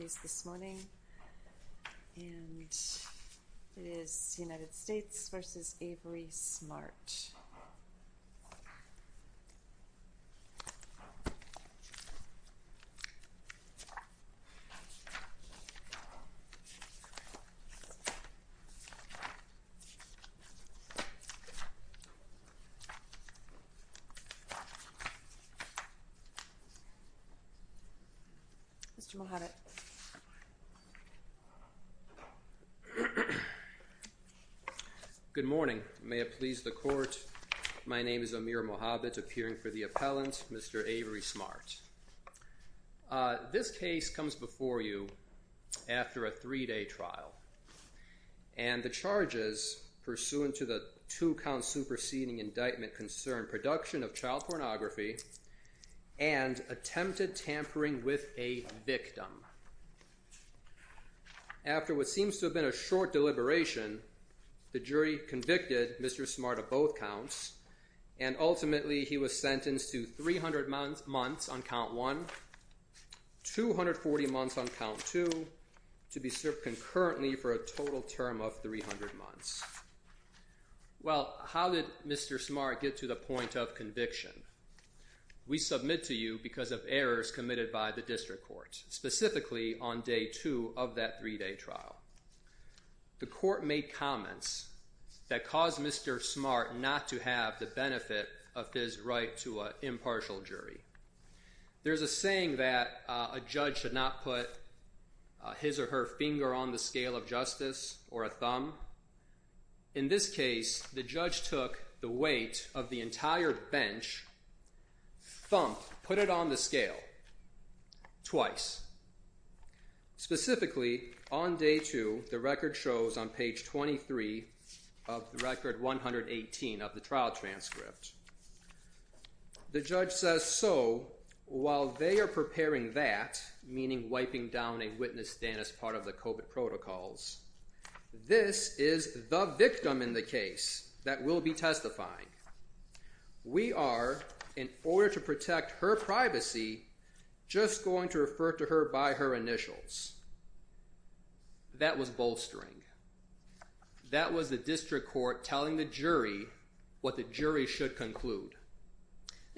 is it is the United States versus Avery smart good morning may it please the court my name is Amir Muhammad appearing for the appellant mr. Avery smart this case comes before you after a three-day trial and the charges pursuant to the two-count superseding indictment concern production of child pornography and attempted tampering with a victim after what seems to have been a short deliberation the jury convicted mr. smart of both counts and ultimately he was sentenced to 300 months months on count one 240 months on count two to be served concurrently for a total term of 300 months well how did mr. smart get to the point of conviction we submit to you because of errors committed by the district court specifically on day two of that three-day trial the court made comments that caused mr. smart not to have the benefit of his right to impartial jury there's a saying that a judge should not put his or her finger on the scale of justice or a thumb in this case the judge took the weight of the entire bench put it on the scale twice specifically on day two the record shows on page 23 of the record 118 of the trial transcript the judge says so while they are preparing that meaning wiping down a witness stand as part of the COVID protocols this is the victim in the case that will be testifying we are in order to protect her privacy just going to refer to her by her initials that was bolstering that was the district court telling the jury what the jury should conclude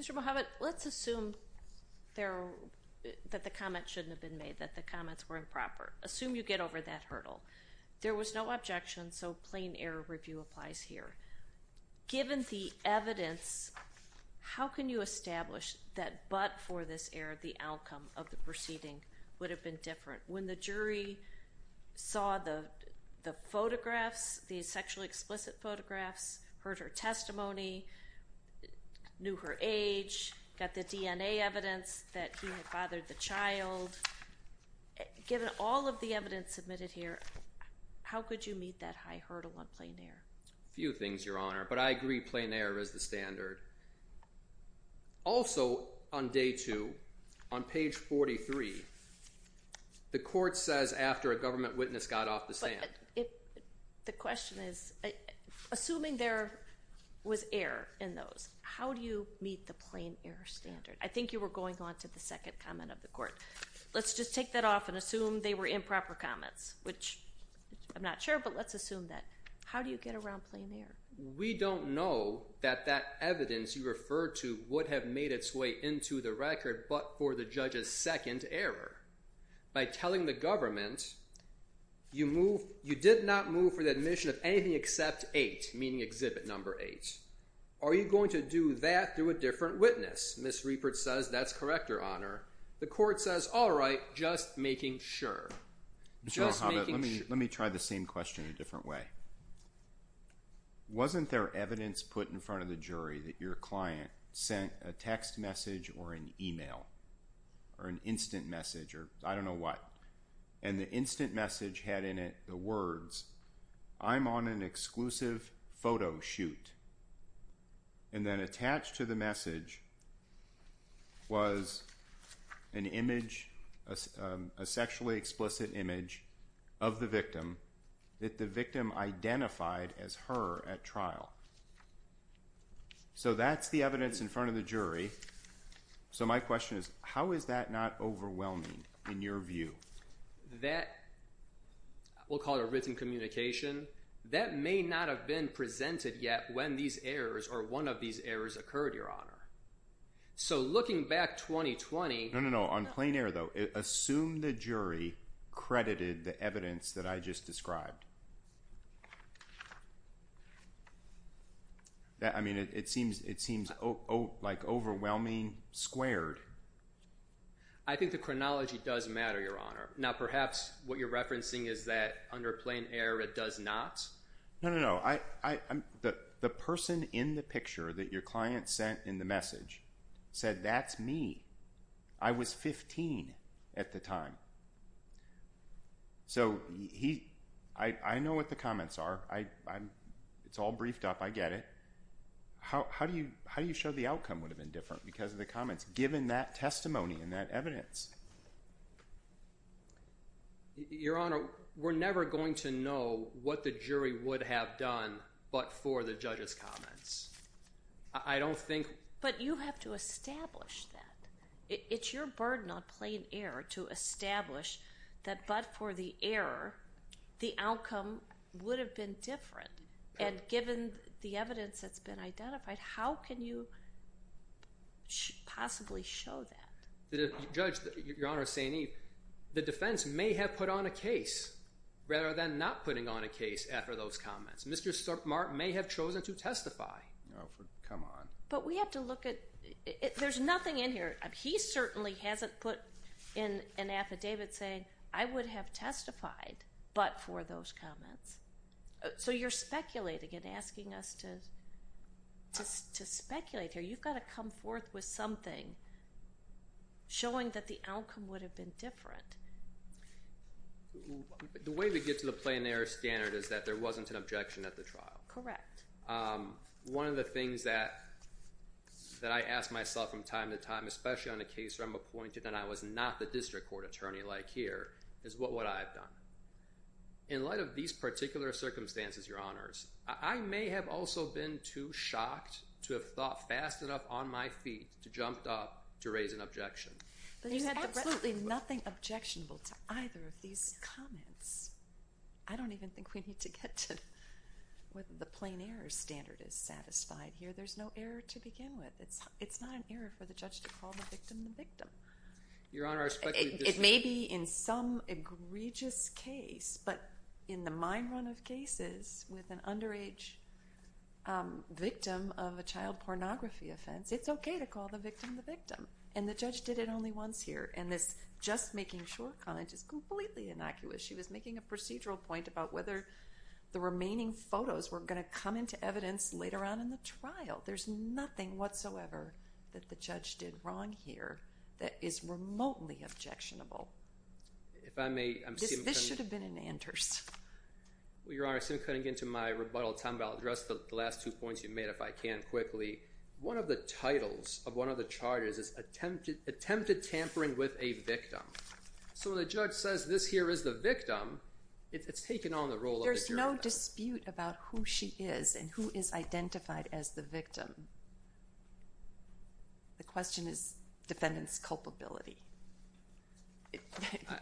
mr. Mohamed let's assume there that the comment shouldn't have been made that the comments were improper assume you get over that hurdle there was no objection so plain error review applies here given the evidence how can you establish that but for this error the outcome of the proceeding would have been different when the jury saw the the photographs these sexually explicit photographs heard her testimony knew her age got the DNA evidence that he had fathered the child given all of the evidence submitted here how could you meet that high hurdle on plain air few things your honor but I agree plain error is the to on page 43 the court says after a government witness got off the stand the question is assuming there was air in those how do you meet the plain air standard I think you were going on to the second comment of the court let's just take that off and assume they were improper comments which I'm not sure but let's assume that how do you get around playing there we don't know that that evidence you refer to what have made its way into the record but for the judges second error by telling the government you move you did not move for the admission of anything except eight meeting exhibit number eight are you going to do that through a different witness this report says that's correct your honor the court says all right just making sure let me let me try the same question different way wasn't there evidence put in front of the jury that your client sent a text message or an email or an instant message or I don't know what and the instant message had in it the words I'm on an exclusive photo shoot and then attached to the message was an image a sexually explicit image of the victim that the victim identified as her at trial so that's the evidence in front of the jury so my question is how is that not overwhelming in your view that will call it a written communication that may not have been presented yet when these errors or one of these errors occurred your honor so the evidence that I just described that I mean it seems it seems oh oh like overwhelming squared I think the chronology does matter your honor now perhaps what you're referencing is that under plain air it does not no no I the the person in the picture that your client sent in the message said that's I was 15 at the time so he I know what the comments are I it's all briefed up I get it how do you how do you show the outcome would have been different because of the comments given that testimony in that evidence your honor we're never going to know what the jury would have done but for the judges comments I don't think but you have to establish that it's your burden on plain-air to establish that but for the error the outcome would have been different and given the evidence that's been identified how can you possibly show that the judge your honor Saini the defense may have put on a case rather than not putting on a case after those comments mr. start mark may have chosen to testify come on but we have to look at it there's nothing in here he certainly hasn't put in an affidavit saying I would have testified but for those comments so you're speculating and asking us to just to speculate here you've got to come forth with something showing that the outcome would have been different the way to get to the plain air standard is that there wasn't an one of the things that that I asked myself from time to time especially on the case where I'm appointed and I was not the district court attorney like here is what what I've done in light of these particular circumstances your honors I may have also been too shocked to have thought fast enough on my feet to jumped up to raise an objection there's absolutely nothing objectionable to either of these comments I don't even think we need to get to with the plain air standard is satisfied here there's no error to begin with it's it's not an error for the judge to call the victim the victim your honor it may be in some egregious case but in the mine run of cases with an underage victim of a child pornography offense it's okay to call the victim the victim and the judge did it only once here and this just making sure college is completely innocuous she was making a procedural point about whether the remaining photos were going to come into evidence later on in the trial there's nothing whatsoever that the judge did wrong here that is remotely objectionable if I may this should have been in Anders well your honor I'm cutting into my rebuttal time about address the last two points you made if I can quickly one of the titles of one of the charges is attempted attempted tampering with a victim so the judge says this here is the victim it's taken on the role there's no dispute about who she is and who is identified as the victim the question is defendants culpability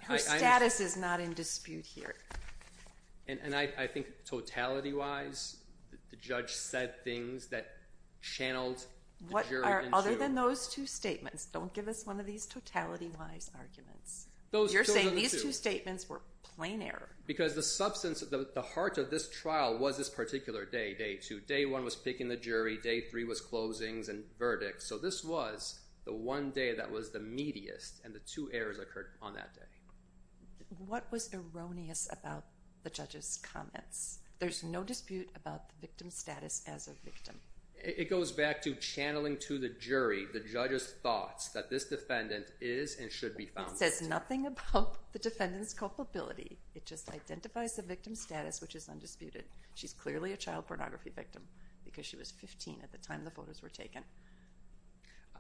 her status is not in dispute here and I think totality wise the judge said things that channeled what are other than those two statements don't give us one of these totality wise arguments those you're saying these two statements were plain air because the substance of the heart of this trial was this particular day day to day one was picking the jury day three was closings and verdicts so this was the one day that was the meatiest and the two errors occurred on that day what was erroneous about the judges comments there's no dispute about the victim status as a victim it goes back to channeling to the jury the judges thoughts that this defendant is and should be found says nothing about the defendants culpability it just identifies the victim status which is undisputed she's clearly a child pornography victim because she was 15 at the time the photos were taken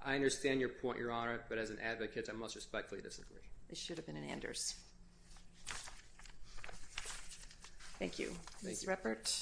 I understand your point your honor but as an advocate I must respectfully disagree it should have been an Anders thank you nice repert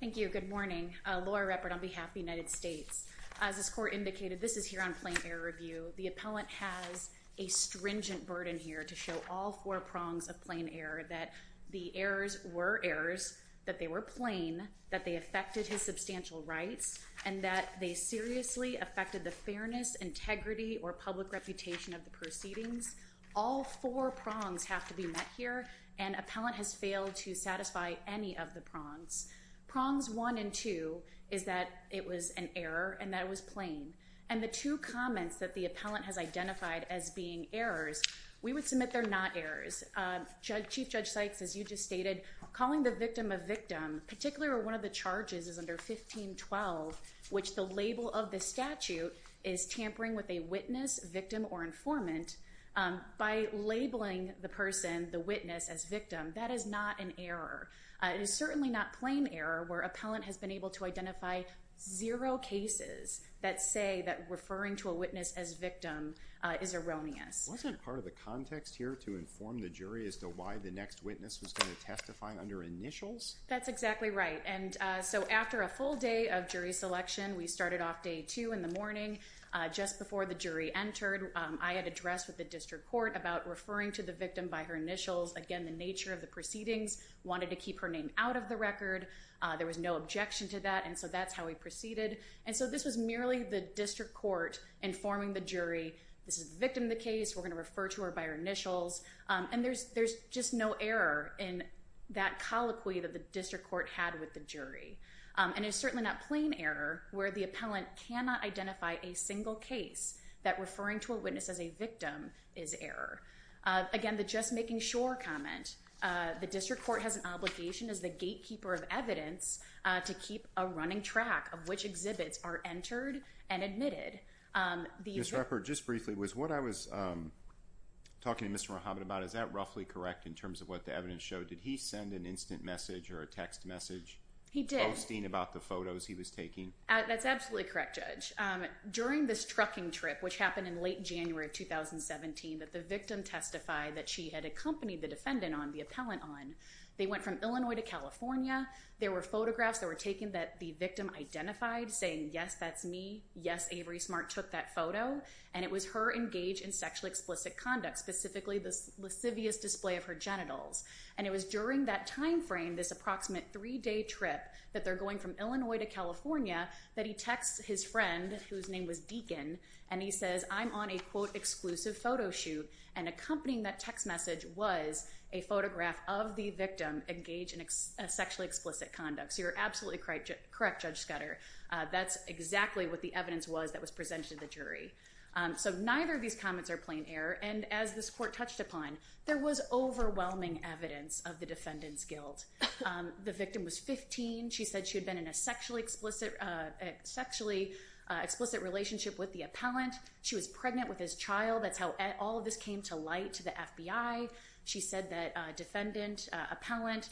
thank you good morning Laura Repert on behalf of the United States as this court indicated this is here on plain air review the appellant has a stringent burden here to show all four prongs of plain air that the errors were errors that they were plain that they affected his substantial rights and that they seriously affected the fairness integrity or public reputation of the proceedings all four prongs have to be met here and appellant has failed to satisfy any of the prongs prongs one and two is that it was an error and that was plain and the two comments that the appellant has identified as being errors we would submit they're not errors judge chief judge Sykes as you just stated calling the victim a victim particularly one of the charges is under 1512 which the label of the statute is tampering with a witness victim or informant by labeling the person the witness as victim that is not an error it is certainly not plain error where appellant has been able to identify zero cases that say that referring to a witness as victim is erroneous wasn't part of the context here to inform the jury as to why the next witness was going to testify under initials that's exactly right and so after a full day of we started off day two in the morning just before the jury entered I had addressed with the district court about referring to the victim by her initials again the nature of the proceedings wanted to keep her name out of the record there was no objection to that and so that's how we proceeded and so this was merely the district court informing the jury this is victim the case we're going to refer to her by her initials and there's there's just no error in that colloquy that the district court had with the jury and it's appellant cannot identify a single case that referring to a witness as a victim is error again the just making sure comment the district court has an obligation as the gatekeeper of evidence to keep a running track of which exhibits are entered and admitted the rapper just briefly was what I was talking to mr. Mohammed about is that roughly correct in terms of what the evidence showed did he send an instant message or a text message he did about the photos he was taking that's absolutely correct judge during this trucking trip which happened in late January of 2017 that the victim testified that she had accompanied the defendant on the appellant on they went from Illinois to California there were photographs that were taken that the victim identified saying yes that's me yes Avery smart took that photo and it was her engaged in sexually explicit conduct specifically this lascivious display of her genitals and it was during that time frame this approximate three-day trip that they're going from Illinois to California that he texts his friend whose name was Deacon and he says I'm on a quote exclusive photo shoot and accompanying that text message was a photograph of the victim engaged in sexually explicit conduct so you're absolutely correct correct judge Scudder that's exactly what the evidence was that was presented to the jury so neither of these comments are plain error and as this court touched upon there was overwhelming evidence of the defendant's guilt the victim was 15 she said she had been in a sexually explicit sexually explicit relationship with the appellant she was pregnant with his child that's how all of this came to light to the FBI she said that defendant appellant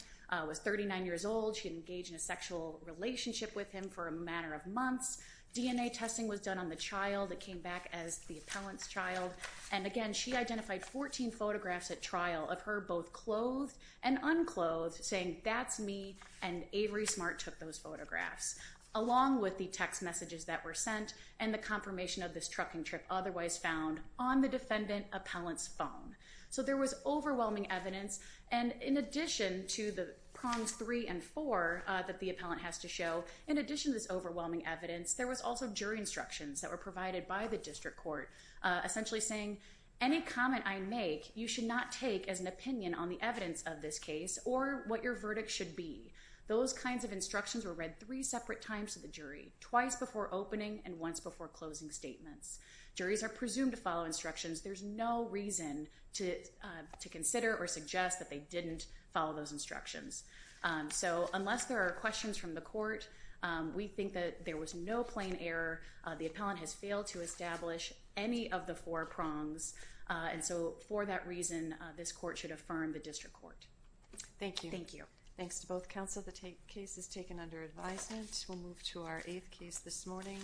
was 39 years old she engaged in a sexual relationship with him for a matter of months DNA testing was done on the child that came back as the appellant's child and again she identified 14 photographs at trial of her both clothed and unclothed saying that's me and Avery smart took those photographs along with the text messages that were sent and the confirmation of this trucking trip otherwise found on the defendant appellant's phone so there was overwhelming evidence and in addition to the prongs three and four that the appellant has to show in addition to this overwhelming evidence there was also jury instructions that were provided by the district court essentially saying any comment I make you should not take as an opinion on the evidence of this case or what your verdict should be those kinds of instructions were read three separate times to the jury twice before opening and once before closing statements juries are presumed to follow instructions there's no reason to to consider or suggest that they didn't follow those instructions so unless there are questions from the court we think that there was no plain error the appellant has failed to establish any of the four prongs and so for that reason this court should affirm the district court thank you thank you thanks to both counsel the tape case is taken under advisement we'll move to our eighth case this morning